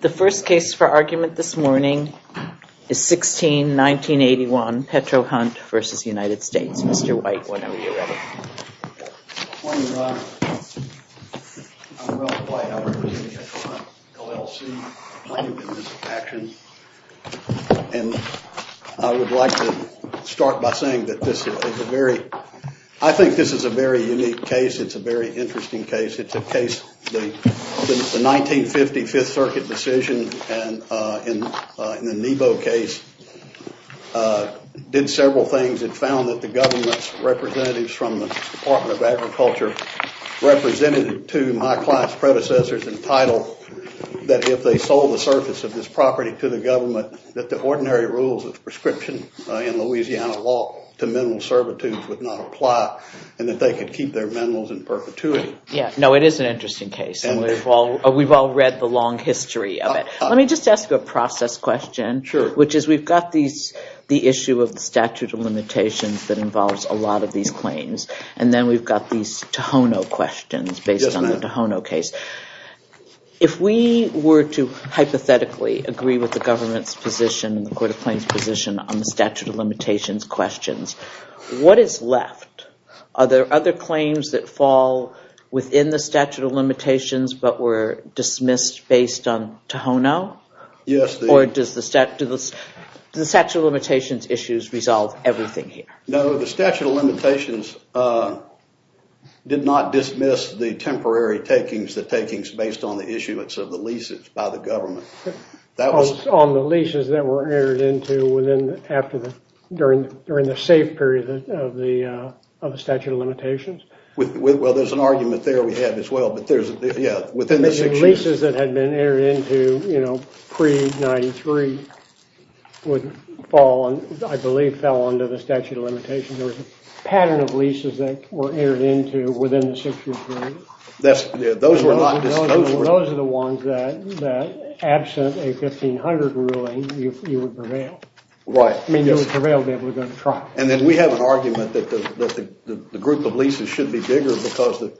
The first case for argument this morning is 16-1981, Petro-Hunt v. United States. Mr. White, whenever you're ready. Good morning, Ron. I'm Ralph White. I represent Petro-Hunt, L.L.C. I'm in this action, and I would like to start by saying that this is a very I think this is a very unique case. It's a very interesting case. It's a case, the 1950 Fifth Circuit decision in the Nebo case did several things. It found that the government's representatives from the Department of Agriculture represented to my class predecessors in title that if they sold the surface of this property to the government that the ordinary rules of prescription in Louisiana law to mineral servitude would not apply, and that they could keep their minerals in perpetuity. Yeah, no, it is an interesting case, and we've all read the long history of it. Let me just ask you a process question, which is we've got the issue of the statute of limitations that involves a lot of these claims, and then we've got these Tohono questions based on the Tohono case. If we were to hypothetically agree with the government's position and the court of claims position on the statute of limitations questions, what is left? Are there other claims that fall within the statute of limitations, but were dismissed based on Tohono, or does the statute of limitations issues resolve everything here? No, the statute of limitations did not dismiss the temporary takings, the takings based on the issuance of the leases by the government. On the leases that were entered into during the safe period of the statute of limitations? Well, there's an argument there we have as well, but yeah, within the six years. The leases that had been entered into, you know, pre-93 would fall, and I believe fell under the statute of limitations. There was a pattern of leases that were entered into within the six-year period. Those were not dismissed. Those are the ones that, absent a 1500 ruling, you would prevail. Right. I mean, you would prevail to be able to go to trial. And then we have an argument that the group of leases should be bigger because the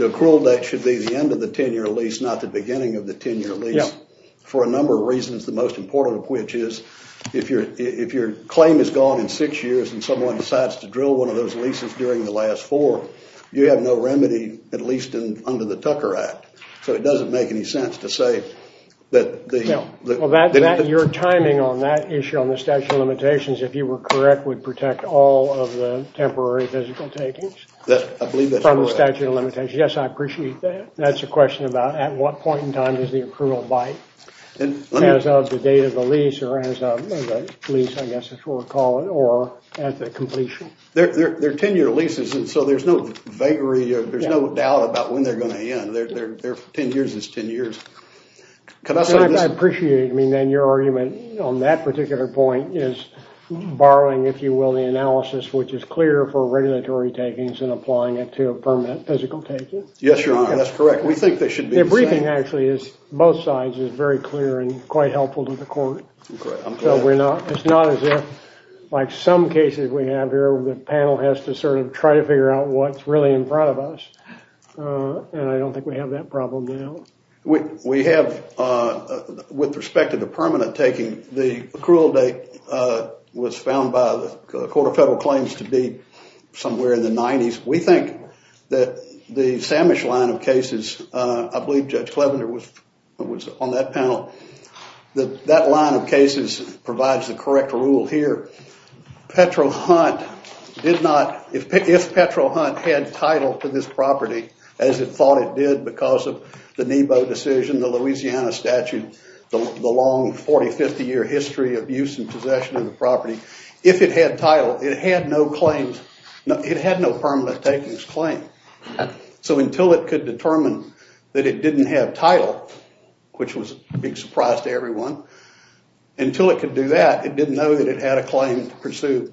accrual date should be the end of the 10-year lease, not the beginning of the 10-year lease. Yeah. For a number of reasons, the most important of which is if your claim is gone in six years and someone decides to drill one of those leases during the last four, you have no remedy, at least under the Tucker Act. So it doesn't make any sense to say that the... ...all of the temporary physical takings... I believe that's correct. ...from the statute of limitations. Yes, I appreciate that. That's a question about at what point in time is the accrual by as of the date of the lease or as of the lease, I guess, as we'll call it, or at the completion. They're 10-year leases, and so there's no vagary, there's no doubt about when they're going to end. Their 10 years is 10 years. I appreciate your argument on that particular point is borrowing, if you will, the analysis, which is clear for regulatory takings and applying it to a permanent physical taking. Yes, Your Honor, that's correct. We think they should be the same. The briefing, actually, is both sides is very clear and quite helpful to the court. I'm glad. It's not as if, like some cases we have here, the panel has to sort of try to figure out what's really in front of us, and I don't think we have that problem now. We have, with respect to the permanent taking, the accrual date was found by the Court of Federal Claims to be somewhere in the 90s. We think that the Samish line of cases, I believe Judge Clevender was on that panel, that that line of cases provides the correct rule here. Petro-Hunt did not, if Petro-Hunt had title to this property, as it thought it did because of the Nebo decision, the Louisiana statute, the long 40, 50 year history of use and possession of the property, if it had title, it had no claims, it had no permanent takings claim. So until it could determine that it didn't have title, which was a big surprise to everyone, until it could do that, it didn't know that it had a claim to pursue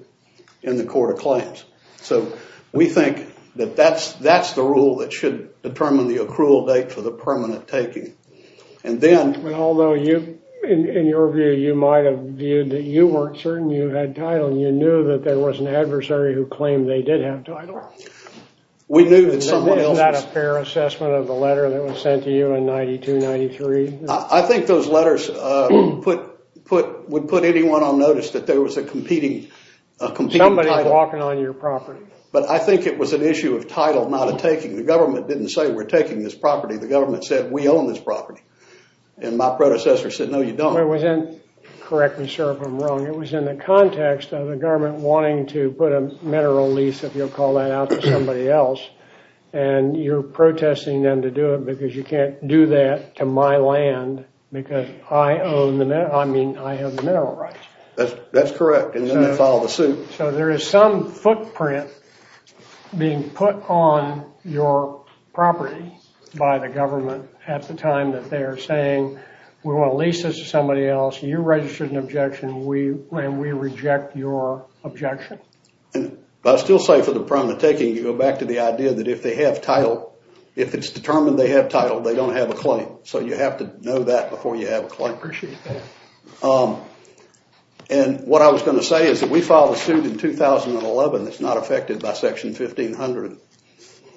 in the Court of Claims. So we think that that's the rule that should determine the accrual date for the permanent taking. Although, in your view, you might have viewed that you weren't certain you had title and you knew that there was an adversary who claimed they did have title. Isn't that a fair assessment of the letter that was sent to you in 92-93? I think those letters would put anyone on notice that there was a competing title. Somebody walking on your property. But I think it was an issue of title, not of taking. The government didn't say we're taking this property, the government said we own this property. And my predecessor said, no you don't. Correct me, sir, if I'm wrong. It was in the context of the government wanting to put a mineral lease, if you'll call that out, to somebody else. And you're protesting them to do it because you can't do that to my land because I own the, I mean, I have the mineral rights. That's correct. And then they filed a suit. So there is some footprint being put on your property by the government at the time that they are saying we want to lease this to somebody else. You registered an objection and we reject your objection. I still say for the permanent taking, you go back to the idea that if they have title, if it's determined they have title, they don't have a claim. So you have to know that before you have a claim. Appreciate that. And what I was going to say is that we filed a suit in 2011 that's not affected by Section 1500.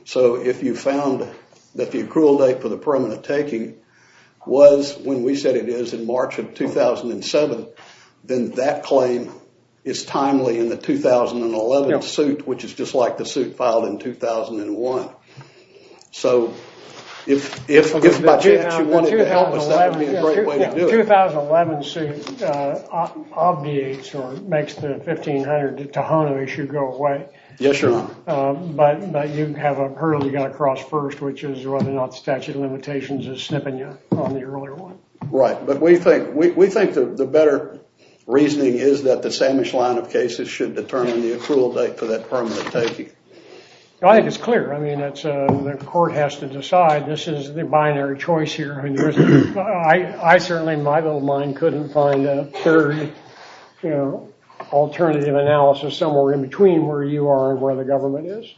So if you found that the accrual date for the permanent taking was when we said it is in March of 2007, then that claim is timely in the 2011 suit, which is just like the suit filed in 2001. So if by chance you wanted to help us, that would be a great way to do it. The 2011 suit obviates or makes the 1500 Tejano issue go away. Yes, Your Honor. But you have a hurdle you've got to cross first, which is whether or not statute of limitations is snipping you on the earlier one. Right. But we think the better reasoning is that the Samish line of cases should determine the accrual date for that permanent taking. I think it's clear. I mean, the court has to decide. This is the binary choice here. I certainly, in my little mind, couldn't find a third alternative analysis somewhere in between where you are and where the government is.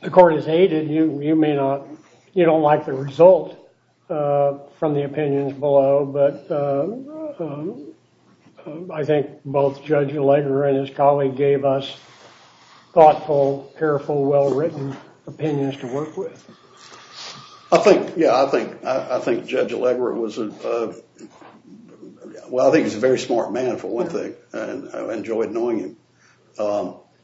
The court has aided. You don't like the result from the opinions below. But I think both Judge Allegra and his colleague gave us thoughtful, careful, well-written opinions to work with. I think Judge Allegra was a very smart man, for one thing. I enjoyed knowing him.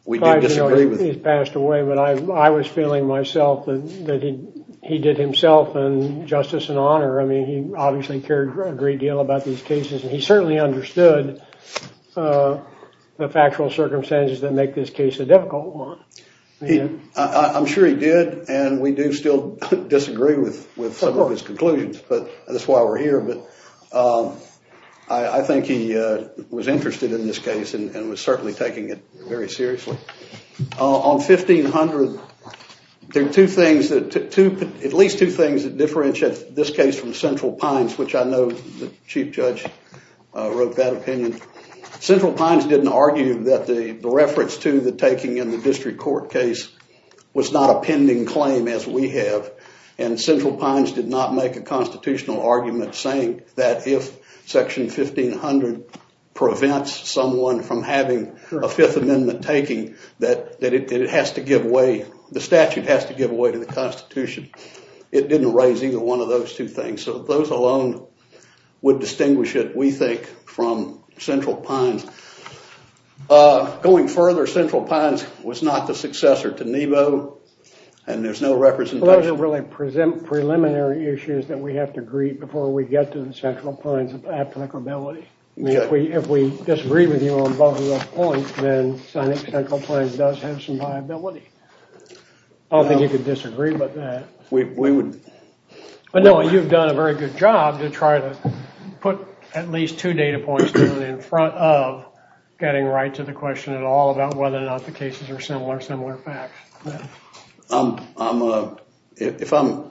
He's passed away, but I was feeling myself that he did himself justice and honor. I mean, he obviously cared a great deal about these cases, and he certainly understood the factual circumstances that make this case a difficult one. I'm sure he did, and we do still disagree with some of his conclusions, but that's why we're here. But I think he was interested in this case and was certainly taking it very seriously. On 1500, there are at least two things that differentiate this case from Central Pines, which I know the Chief Judge wrote that opinion. Central Pines didn't argue that the reference to the taking in the district court case was not a pending claim, as we have. And Central Pines did not make a constitutional argument saying that if Section 1500 prevents someone from having a Fifth Amendment taking, that the statute has to give way to the Constitution. It didn't raise either one of those two things. So those alone would distinguish it, we think, from Central Pines. Going further, Central Pines was not the successor to Nebo, and there's no representation. Those don't really present preliminary issues that we have to agree before we get to the Central Pines applicability. I mean, if we disagree with you on both of those points, then I think Central Pines does have some viability. I don't think you could disagree with that. I know you've done a very good job to try to put at least two data points in front of getting right to the question at all about whether or not the cases are similar, similar facts. If I'm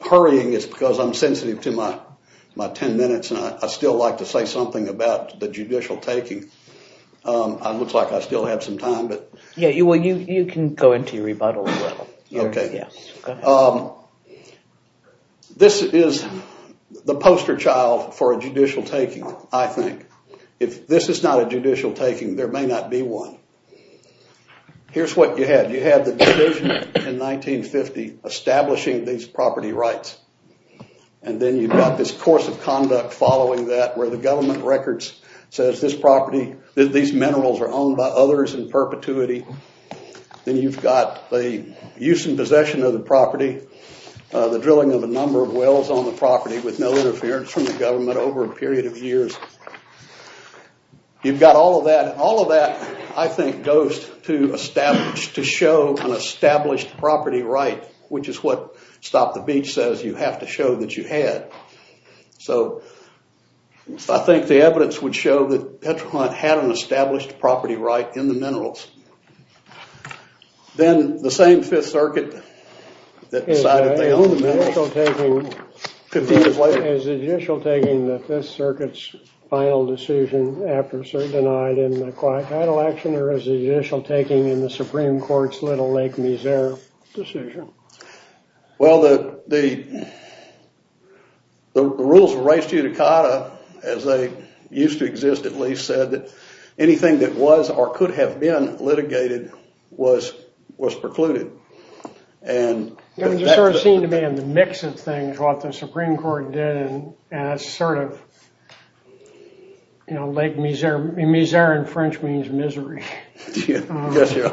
hurrying, it's because I'm sensitive to my 10 minutes, and I'd still like to say something about the judicial taking. It looks like I still have some time. Yeah, well, you can go into your rebuttal as well. Okay. Go ahead. This is the poster child for a judicial taking, I think. If this is not a judicial taking, there may not be one. Here's what you had. You had the decision in 1950 establishing these property rights, and then you've got this course of conduct following that where the government records says this property, that these minerals are owned by others in perpetuity. Then you've got the use and possession of the property, the drilling of a number of wells on the property with no interference from the government over a period of years. You've got all of that. All of that, I think, goes to establish, to show an established property right, which is what Stop the Beach says you have to show that you had. So, I think the evidence would show that Petra Hunt had an established property right in the minerals. Then the same Fifth Circuit that decided they owned the minerals. Is the judicial taking the Fifth Circuit's final decision after denied in the quiet title action, or is the judicial taking in the Supreme Court's Little Lake-Mesere decision? Well, the rules of res judicata, as they used to exist at least, said that anything that was or could have been litigated was precluded. It sort of seemed to be in the mix of things what the Supreme Court did, and that's sort of Lake-Mesere. Mesere in French means misery. Yes, you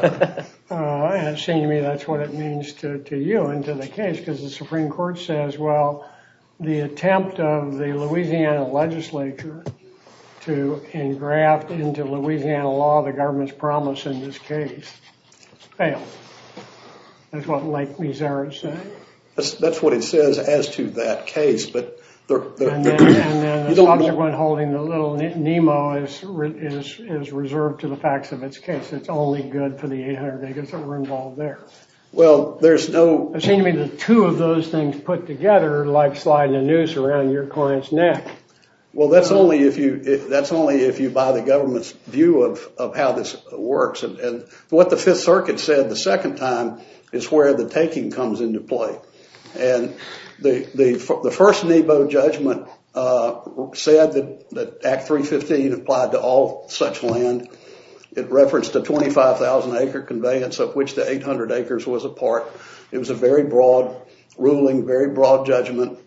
are. Seem to me that's what it means to you and to the case, because the Supreme Court says, well, the attempt of the Louisiana legislature to engraft into Louisiana law the government's promise in this case failed. That's what Lake-Mesere said. That's what it says as to that case, but... And then the subsequent holding, the Little Nemo is reserved to the facts of its case. It's only good for the 800 acres that were involved there. Well, there's no... It seems to me that two of those things put together like sliding a noose around your client's neck. Well, that's only if you buy the government's view of how this works, and what the Fifth Circuit said the second time is where the taking comes into play, and the first Nebo judgment said that Act 315 applied to all such land. It referenced the 25,000-acre conveyance of which the 800 acres was a part. It was a very broad ruling, very broad judgment,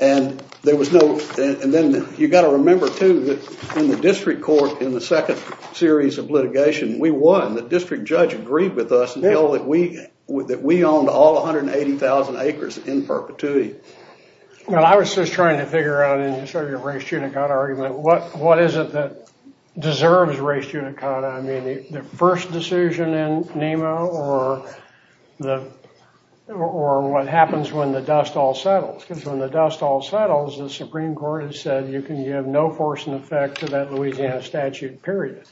and there was no... And then you've got to remember, too, that in the district court, in the second series of litigation, we won. The district judge agreed with us and held that we owned all 180,000 acres in perpetuity. Well, I was just trying to figure out in sort of your race-tunic-out argument, what is it that deserves race-tunic-out? I mean, the first decision in Nebo or what happens when the dust all settles? Because when the dust all settles, the Supreme Court has said you can give no force and effect to that Louisiana statute, period.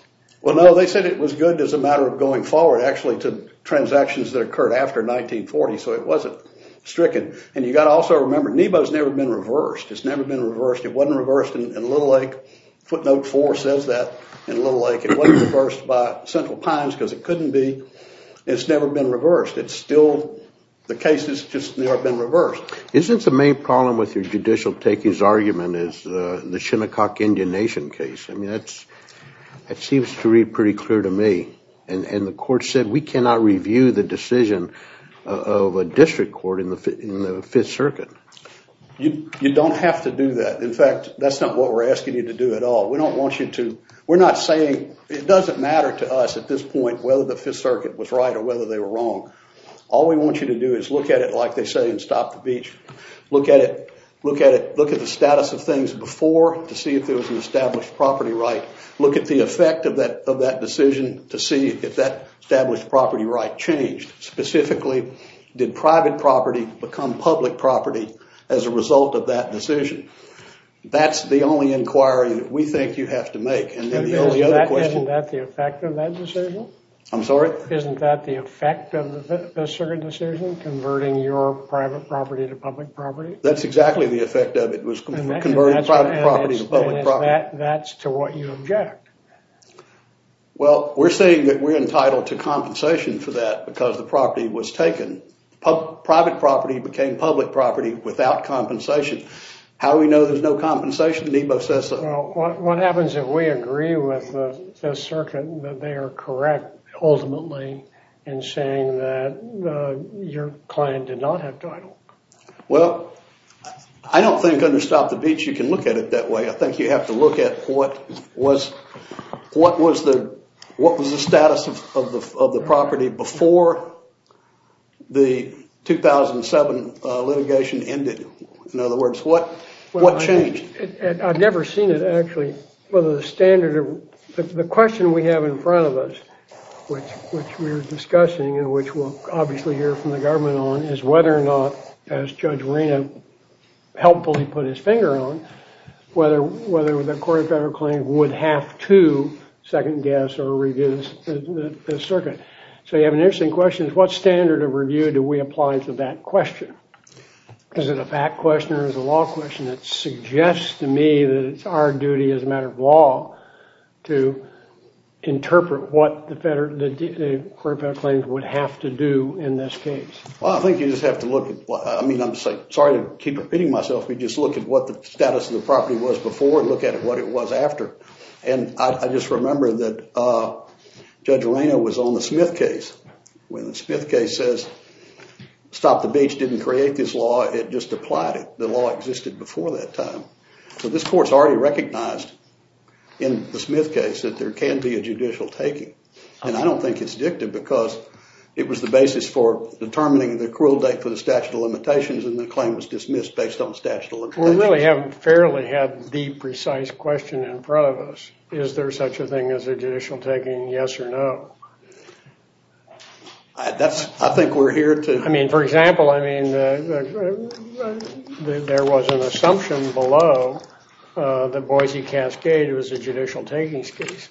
Well, no, they said it was good as a matter of going forward, actually, to transactions that occurred after 1940, so it wasn't stricken. And you've got to also remember, Nebo's never been reversed. It's never been reversed. It wasn't reversed in Little Lake. Footnote 4 says that in Little Lake. It wasn't reversed by Central Pines because it couldn't be. It's never been reversed. It's still... The case has just never been reversed. Isn't the main problem with your judicial takings argument is the Shinnecock Indian Nation case? I mean, that seems to read pretty clear to me, and the court said we cannot review the decision of a district court in the Fifth Circuit. You don't have to do that. In fact, that's not what we're asking you to do at all. We don't want you to... We're not saying... It doesn't matter to us at this point whether the Fifth Circuit was right or whether they were wrong. All we want you to do is look at it like they say in Stop the Beach. Look at it. Look at the status of things before to see if there was an established property right. Look at the effect of that decision to see if that established property right changed. Specifically, did private property become public property as a result of that decision? That's the only inquiry that we think you have to make. Isn't that the effect of that decision? I'm sorry? Isn't that the effect of the Fifth Circuit decision converting your private property to public property? That's exactly the effect of it was converting private property to public property. That's to what you object. Well, we're saying that we're entitled to compensation for that because the property was taken. Private property became public property without compensation. How do we know there's no compensation? Nebo says so. What happens if we agree with the Circuit that they are correct ultimately in saying that your client did not have title? Well, I don't think under Stop the Beach you can look at it that way. I think you have to look at what was the status of the property before the 2007 litigation ended. In other words, what changed? I've never seen it actually. The question we have in front of us, which we're discussing and which we'll obviously hear from the government on, is whether or not, as Judge Arena helpfully put his finger on, whether the Court of Federal Claims would have to second-guess or review the Circuit. So you have an interesting question. What standard of review do we apply to that question? Is it a fact question or is it a law question? It suggests to me that it's our duty as a matter of law to interpret what the Court of Federal Claims would have to do in this case. Well, I think you just have to look at what, I mean, I'm sorry to keep repeating myself, but just look at what the status of the property was before and look at what it was after. And I just remember that Judge Arena was on the Smith case. When the Smith case says Stop the Beach didn't create this law, it just applied it. The law existed before that time. So this Court's already recognized in the Smith case that there can be a judicial taking. And I don't think it's addictive because it was the basis for determining the accrual date for the statute of limitations and the claim was dismissed based on the statute of limitations. We really haven't fairly had the precise question in front of us. Is there such a thing as a judicial taking, yes or no? I think we're here to... I mean, for example, I mean, there was an assumption below the Boise Cascade. It was a judicial takings case.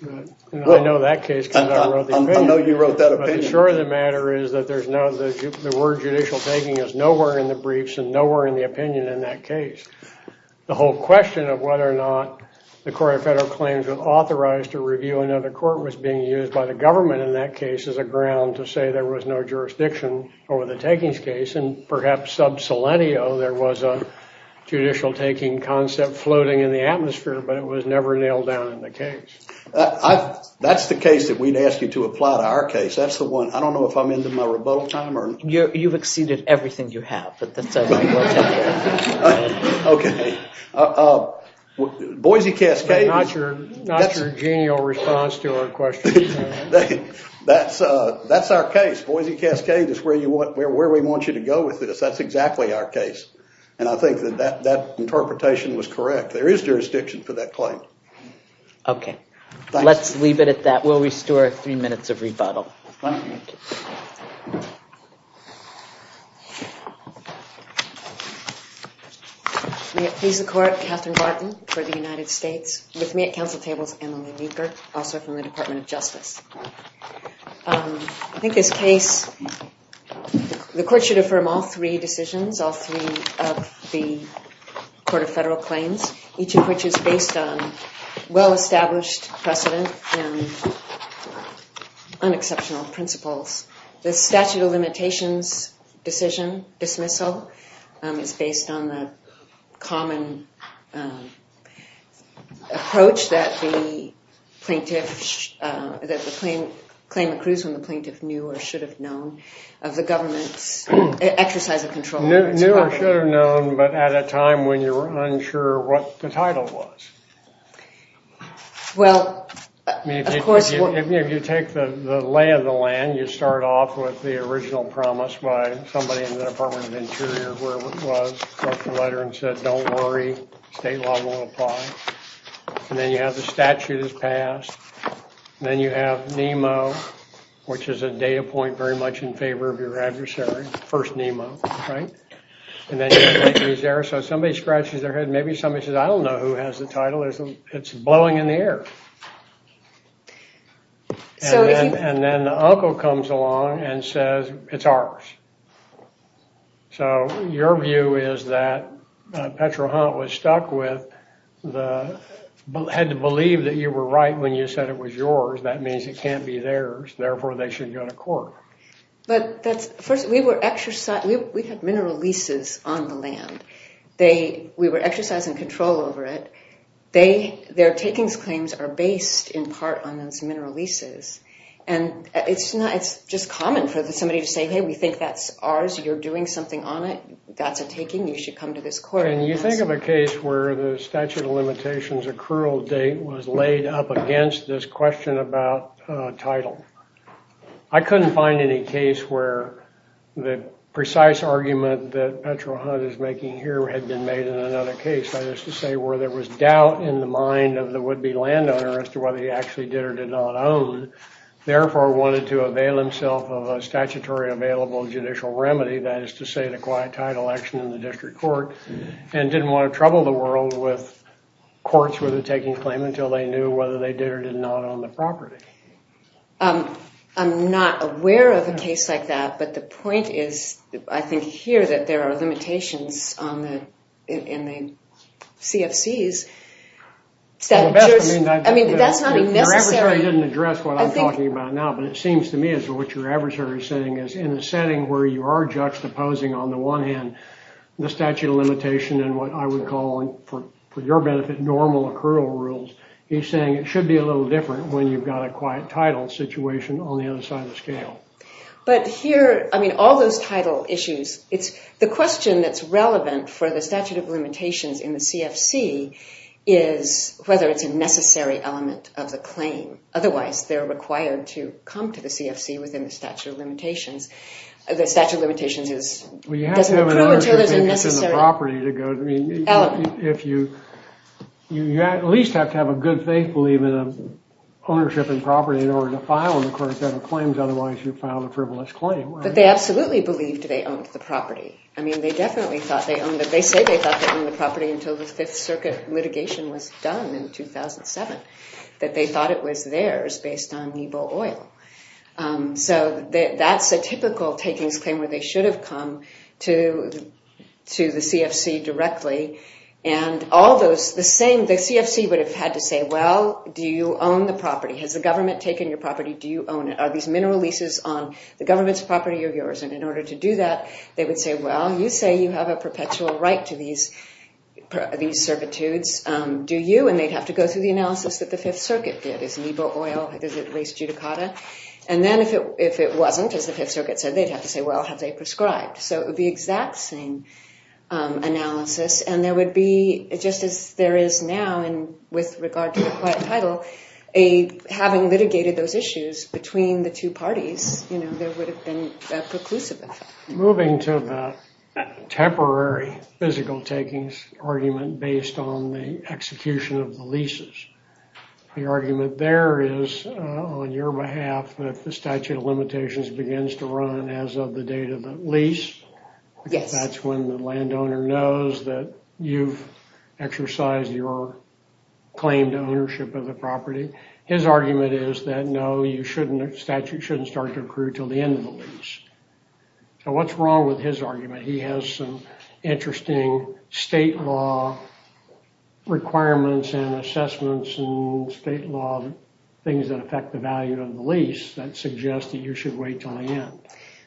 I know that case came down and wrote the opinion. I know you wrote that opinion. But sure the matter is that the word judicial taking is nowhere in the briefs and nowhere in the opinion in that case. The whole question of whether or not the Court of Federal Claims was authorized to review another court was being used by the government in that case as a ground to say there was no jurisdiction over the takings case. And perhaps sub selenio there was a judicial taking concept floating in the atmosphere, but it was never nailed down in the case. That's the case that we'd ask you to apply to our case. That's the one. I don't know if I'm into my rebuttal time or... You've exceeded everything you have. But that's... Okay. Boise Cascade... Not your genial response to our question. That's our case. Boise Cascade is where we want you to go with this. That's exactly our case. And I think that that interpretation was correct. There is jurisdiction for that claim. Okay. Let's leave it at that. We'll restore three minutes of rebuttal. He's the court, Catherine Barton, for the United States. With me at council table is Emily Weaver, also from the Department of Justice. I think this case... The court should affirm all three decisions, all three of the Court of Federal Claims, each of which is based on well-established precedent and unexceptional principles. The statute of limitations decision, dismissal, is based on the common approach that the plaintiff... that the claim accrues when the plaintiff knew or should have known of the government's exercise of control. Knew or should have known, but at a time when you were unsure what the title was. Well, of course... I mean, if you take the lay of the land, you start off with the original promise by somebody in the Department of Interior, whoever it was, left a letter and said, don't worry, state law will apply. And then you have the statute is passed. Then you have NEMO, which is a data point very much in favor of your adversary. First NEMO, right? And then somebody scratches their head. Maybe somebody says, I don't know who has the title. It's blowing in the air. And then the uncle comes along and says, it's ours. So your view is that Petrohan was stuck with the... had to believe that you were right when you said it was yours. That means it can't be theirs. Therefore, they should go to court. But first, we had mineral leases on the land. We were exercising control over it. Their takings claims are based in part on those mineral leases. And it's just common for somebody to say, hey, we think that's ours. You're doing something on it. That's a taking. You should come to this court. Can you think of a case where the statute of limitations accrual date was laid up against this question about title? I couldn't find any case where the precise argument that Petrohan is making here had been made in another case, that is to say where there was doubt in the mind of the would-be landowner as to whether he actually did or did not own, therefore wanted to avail himself of a statutory available judicial remedy, that is to say the quiet title action in the district court, and didn't want to trouble the world with courts with a taking claim until they knew whether they did or did not own the property. I'm not aware of a case like that, but the point is I think here that there are limitations in the CFCs. I mean, that's not even necessary. Your adversary didn't address what I'm talking about now, but it seems to me as to what your adversary is saying is in a setting where you are juxtaposing on the one hand the statute of limitation and what I would call for your benefit normal accrual rules, he's saying it should be a little different when you've got a quiet title situation on the other side of the scale. But here, I mean, all those title issues, the question that's relevant for the statute of limitations in the CFC is whether it's a necessary element of the claim. Otherwise, they're required to come to the CFC within the statute of limitations. The statute of limitations doesn't approve until there's a necessary element. You at least have to have a good faith belief in ownership and property in order to file an accrual set of claims. Otherwise, you file a frivolous claim. But they absolutely believed they owned the property. I mean, they definitely thought they owned it. They say they thought they owned the property until the Fifth Circuit litigation was done in 2007, that they thought it was theirs based on NEBO oil. So that's a typical takings claim where they should have come to the CFC directly. And all those, the same, the CFC would have had to say, well, do you own the property? Has the government taken your property? Do you own it? Are these mineral leases on the government's property or yours? And in order to do that, they would say, well, you say you have a perpetual right to these servitudes. Do you? And they'd have to go through the analysis that the Fifth Circuit did. Is NEBO oil, is it leased judicata? And then if it wasn't, as the Fifth Circuit said, they'd have to say, well, have they prescribed? So it would be the exact same analysis. And there would be, just as there is now, and with regard to the quiet title, having litigated those issues between the two parties, there would have been a preclusive effect. Moving to the temporary physical takings argument based on the execution of the leases, the argument there is, on your behalf, if the statute of limitations begins to run as of the date of the lease, that's when the landowner knows that you've exercised your claim to ownership of the property. His argument is that no, you shouldn't, the statute shouldn't start to accrue until the end of the lease. So what's wrong with his argument? He has some interesting state law requirements and assessments and state law things that affect the value of the lease that suggest that you should wait until the end.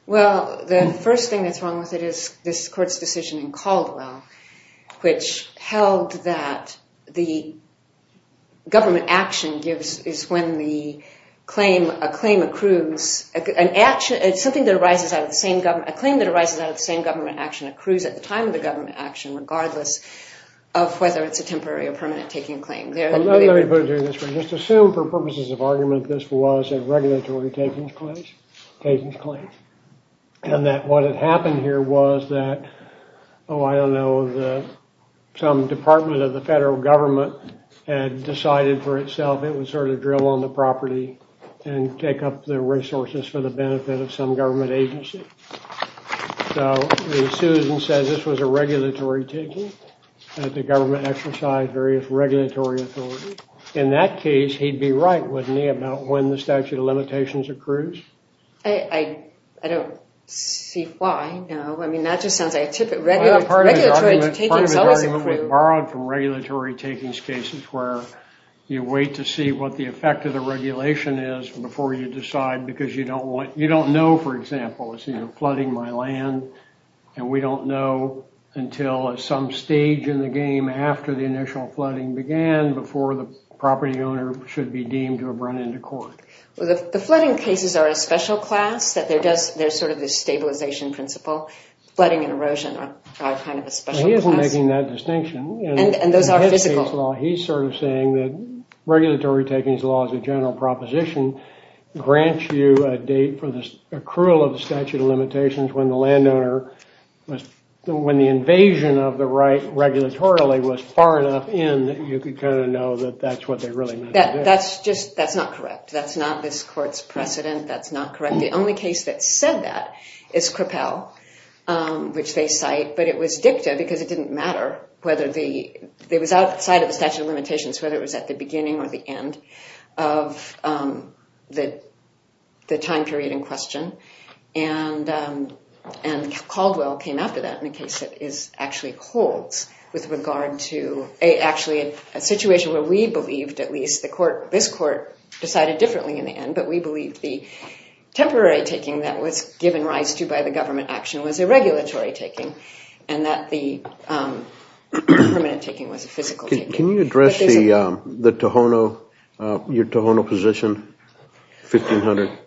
Well, the first thing that's wrong with it is this court's decision in Caldwell, which held that the government action is when a claim that arises out of the same government action accrues at the time of the government action, regardless of whether it's a temporary or permanent taking claim. Let me put it this way. Just assume for purposes of argument this was a regulatory takings claim and that what had happened here was that, oh, I don't know, some department of the federal government had decided for itself it would sort of drill on the property and take up the resources for the benefit of some government agency. So Susan says this was a regulatory taking that the government exercised various regulatory authority. In that case, he'd be right, wouldn't he, about when the statute of limitations accrues? I don't see why, no. I mean, that just sounds like a typical... Part of the argument was borrowed from regulatory takings cases where you wait to see what the effect of the regulation is before you decide because you don't know, for example. It's flooding my land and we don't know until at some stage in the game after the initial flooding began before the property owner should be deemed to have run into court. The flooding cases are a special class. There's sort of this stabilization principle. Flooding and erosion are kind of a special class. He isn't making that distinction. And those are physical. He's sort of saying that regulatory takings law as a general proposition grants you a date for the accrual of the statute of limitations when the landowner was... When the invasion of the right regulatory was far enough in that you could kind of know that that's what they really meant to do. That's just... That's not correct. That's not this court's precedent. That's not correct. The only case that said that is Crapel, which they cite. But it was dicta because it didn't matter whether the... It was outside of the statute of limitations whether it was at the beginning or the end of the time period in question. And Caldwell came after that in a case that is actually holds with regard to actually a situation where we believed at least the court... This court decided differently in the end but we believed the temporary taking that was given rise to by the government action was a regulatory taking and that the permanent taking was a physical taking. Can you address the Tohono... Your Tohono position, 1500?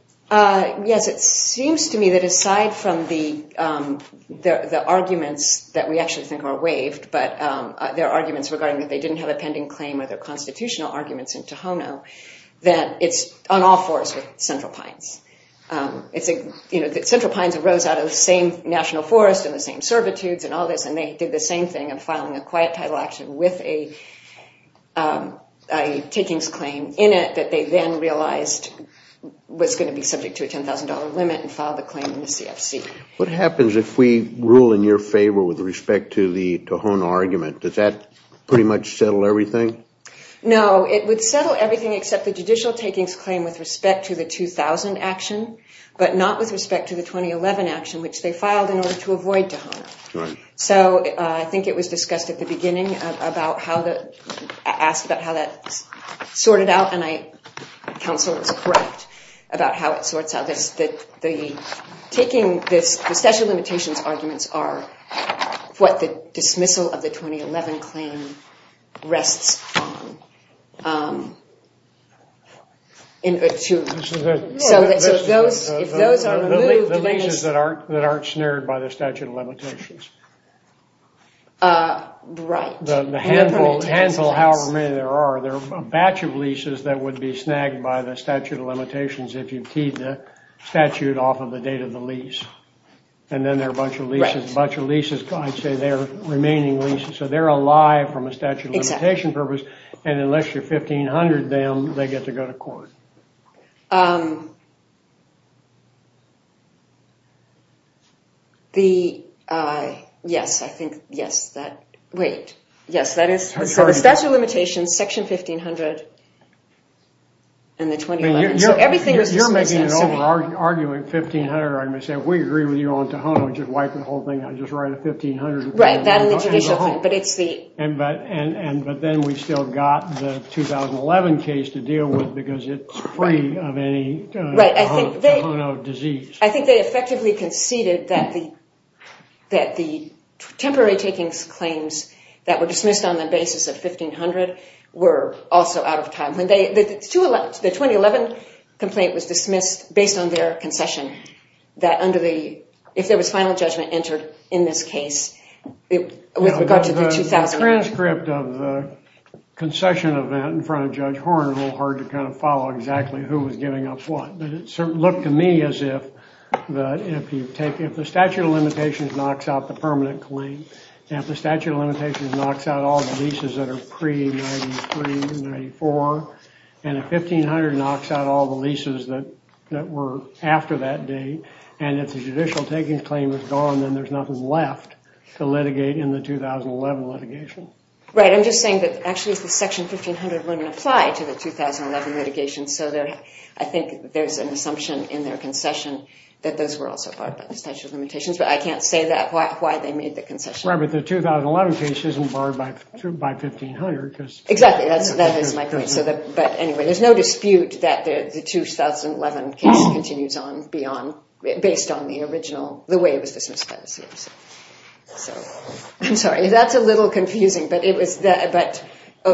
Yes. It seems to me that aside from the arguments that we actually think are waived but there are arguments regarding that they didn't have a pending claim or their constitutional arguments in Tohono that it's on all fours with Central Pines. Central Pines arose out of the same national forest and the same servitudes and all this and they did the same thing of filing a quiet title action with a takings claim in it that they then realized was going to be subject to a $10,000 limit and filed the claim in the CFC. What happens if we rule in your favor with respect to the Tohono argument? Does that pretty much settle everything? No, it would settle everything except the judicial takings claim with respect to the 2000 action but not with respect to the 2011 action which they filed in order to avoid Tohono. So I think it was discussed at the beginning about how the... I think counsel was correct about how it sorts out this... Taking this... The statute of limitations arguments are what the dismissal of the 2011 claim rests on. So if those are moved... The leases that aren't snared by the statute of limitations. Right. The handful, however many there are, there are a batch of leases that would be snagged by the statute of limitations if you teed the statute off of the date of the lease. And then there are a bunch of leases. A bunch of leases. I'd say they're remaining leases. So they're alive from a statute of limitations purpose. And unless you're 1500 them, they get to go to court. The... Yes, I think... Yes, that... Wait. Yes, that is... So the statute of limitations, section 1500, and the 2011... You're making an argument 1500 argument. Say, we agree with you on Tohono. Just wipe the whole thing out. Just write a 1500... Right, that and the judicial claim. But it's the... But then we still got the 2011 case to deal with because it's free of any... Right, I think they... Tohono disease. I think they effectively conceded that the... That the temporary takings claims that were dismissed on the basis of 1500 were also out of time. When they... The 2011 complaint was dismissed based on their concession that under the... If there was final judgment entered in this case, with regard to the 2000... The transcript of the concession event in front of Judge Horn is a little hard to kind of follow exactly who was giving up what. But it looked to me as if that if you take... If the statute of limitations knocks out the permanent claim, and if the statute of limitations knocks out all the leases that are pre-93, 94, and if 1500 knocks out all the leases that were after that date, and if the judicial takings claim is gone, then there's nothing left to litigate in the 2011 litigation. Right, I'm just saying that actually the section 1500 wouldn't apply to the 2011 litigation, so there... I think there's an assumption in their concession that those were also part of the statute of limitations. But I can't say that, why they made the concession. Right, but the 2011 case isn't barred by 1500, because... Exactly, that is my point. So that... But anyway, there's no dispute that the 2011 case continues on beyond... Based on the original... The way it was dismissed by the seers. So... I'm sorry, that's a little confusing, but it was... But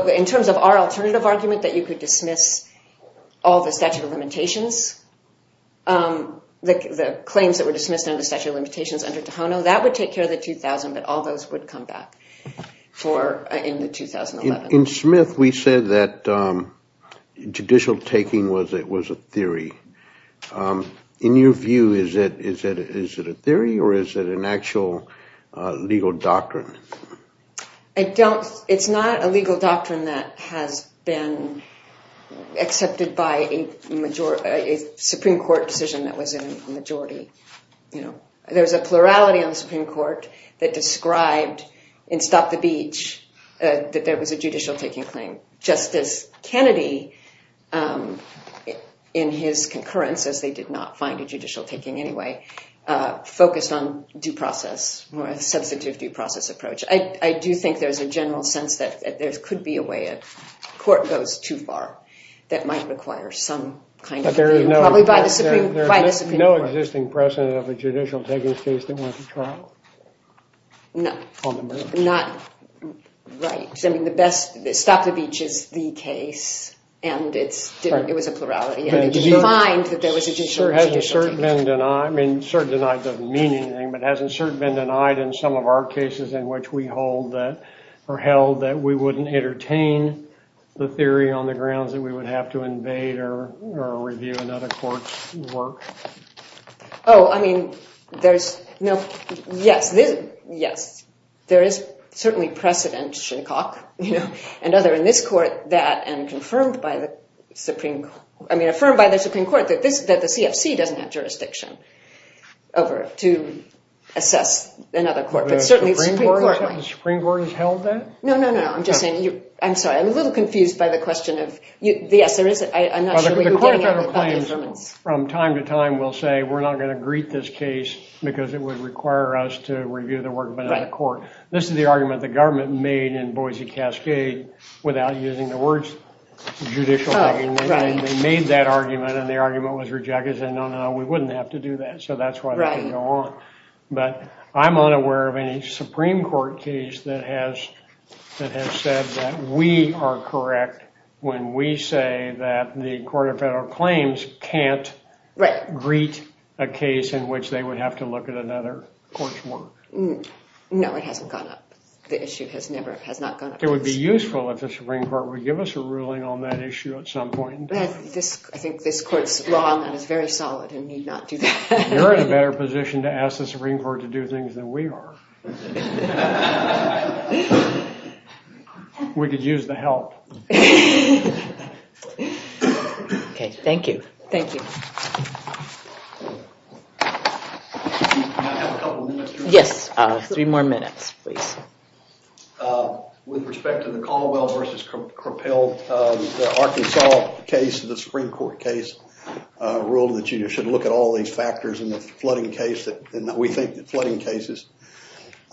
in terms of our alternative argument that you could dismiss all the statute of limitations, the claims that were dismissed under the statute of limitations under Tohono, that would take care of the 2000, but all those would come back for... In the 2011. In Smith, we said that judicial taking was a theory. In your view, is it a theory, or is it an actual legal doctrine? I don't... It's not a legal doctrine that has been accepted by a Supreme Court decision that was in majority. There's a plurality on the Supreme Court that described in Stop the Beach that there was a judicial taking claim. Justice Kennedy, in his concurrence, as they did not find a judicial taking anyway, focused on due process or a substantive due process approach. I do think there's a general sense that there could be a way a court goes too far that might require some kind of... But there is no... Probably by the Supreme Court. There is no existing precedent of a judicial taking case that went to trial. No. On the merits. Not... Right. I mean, the best... Stop the Beach is the case, and it's... It was a plurality, and it was defined that there was a judicial taking. Has a cert been denied? I mean, cert denied doesn't mean anything, but has a cert been denied in some of our cases in which we hold that, or held that we wouldn't entertain the theory on the grounds that we would have to invade or review another court's work? Oh, I mean, there's... No. Yes. Yes. There is certainly precedent, Shinnecock, you know, and other in this court that, and confirmed by the Supreme Court... I mean, affirmed by the Supreme Court that the CFC doesn't have jurisdiction over it to assess another court. But certainly the Supreme Court... The Supreme Court has held that? No, no, no. I'm just saying you... I'm sorry. I'm a little confused by the question of... Yes, there is... I'm not sure that the Court of Federal Claims from time to time will say we're not going to greet this case because it would require us to review the work of another court. This is the argument the government made in Boise Cascade without using the words judicial... Oh, right. And they made that argument and the argument was rejected and said, no, no, no, we wouldn't have to do that. So that's why they didn't go on. But I'm unaware of any Supreme Court case that has said that we are correct when we say that the Court of Federal Claims can't greet a case in which they would have to look at another court's work. No, it hasn't gone up. The issue has never... has not gone up. It would be useful if the Supreme Court would give us a ruling on that issue at some point. I think this Court's law on that is very solid and need not do that. You're in a better position to ask the Supreme Court to do things than we are. We could use the help. Okay, thank you. Thank you. I have a couple of minutes. Yes, three more minutes, please. With respect to the Caldwell versus Crapel, the Arkansas case, the Supreme Court case, ruled that you should look at all these factors in the flooding case and that we think to look at all these factors in the flooding case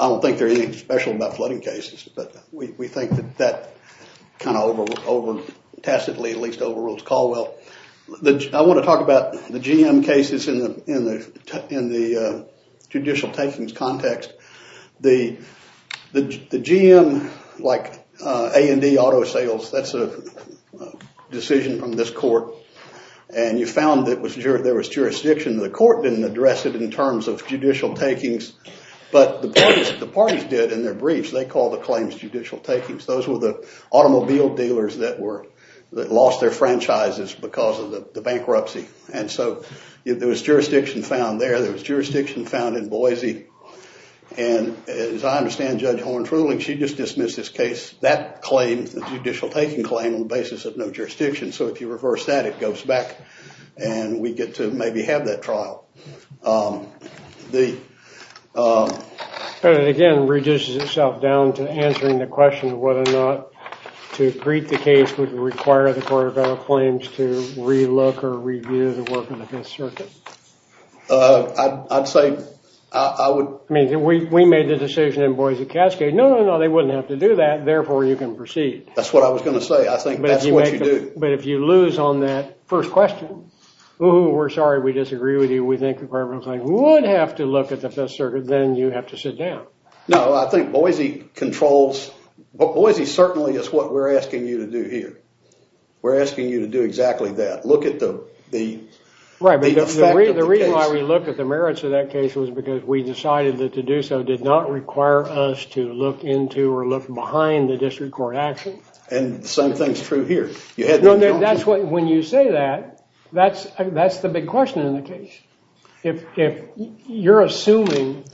than it does in the Arkansas case. So I think that we should look at all these factors in the flooding case and that we think tacitly, at least, overrules Caldwell. I want to talk about the GM cases in the judicial takings context. The GM, like A&D Auto Sales, that's a decision from this Court, and you found that there was jurisdiction. The Court didn't address it in terms of judicial takings, but the parties did in their briefs. They called the claims judicial takings. Those were the automobile dealers that lost their franchises because of the bankruptcy. And so, there was jurisdiction found there, there was jurisdiction found in Boise, and as I understand Judge Horn-Trueling, she just dismissed this case, that claim, the judicial taking claim, on the basis of no jurisdiction. So if you reverse that, it goes back and we get to maybe have that trial. The, again, reduces itself down to answering the question of whether or not to greet the case would require the Court of Federal Claims to relook or review the work of the Fifth Circuit. I'd say, I would... We made the decision in Boise Cascade, no, no, no, they wouldn't have to do that, therefore you can proceed. That's what I was going to say. I think that's what you do. But if you lose on that first question, we're sorry, we disagree with you, we think the requirement would have to look at the Fifth Circuit, then you have to sit down. No, I think Boise controls, Boise certainly controls just what we're asking you to do here. We're asking you to do exactly that. Look at the, the effect of the case. Right, but the reason why we look at the merits of that case was because we decided that to do so did not require us to look into or look behind the district court action. And the same thing is true here. No, that's what, when you say that, that's, that's the big question in the case. If, if you're assuming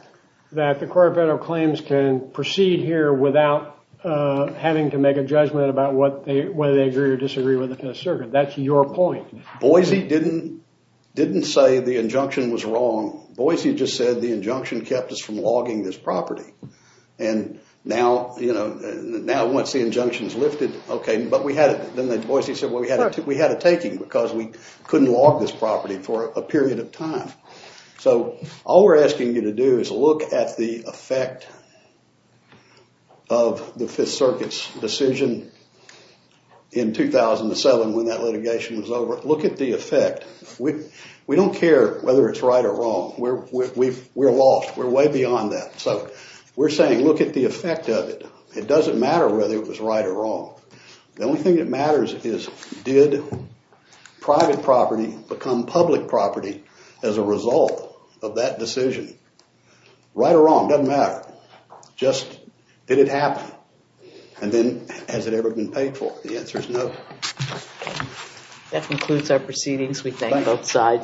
that the Court of Federal Claims can proceed here without having to make a judgment about what they, whether they agree or disagree with the Fifth Circuit, that's your point. Boise didn't, didn't say the injunction was wrong. Boise just said the injunction kept us from logging this property. And now, you know, now once the injunction is lifted, okay, but we had, then Boise said, well, we had to, we had a taking because we couldn't log this property for a period of time. So, all we're asking you to do is look at the effect of the Fifth Circuit's decision in 2007 when that litigation was over. Look at the effect. We, we don't care whether it's right or wrong. We're, we're lost. We're way beyond that. So, we're saying look at the effect of it. It doesn't matter whether it was right or wrong. The only thing that matters is, did private property become public property as a result of that decision? Right or wrong, doesn't matter. Just, did it happen? And then, has it ever been paid for? The answer is no. That concludes our proceedings. We thank both sides.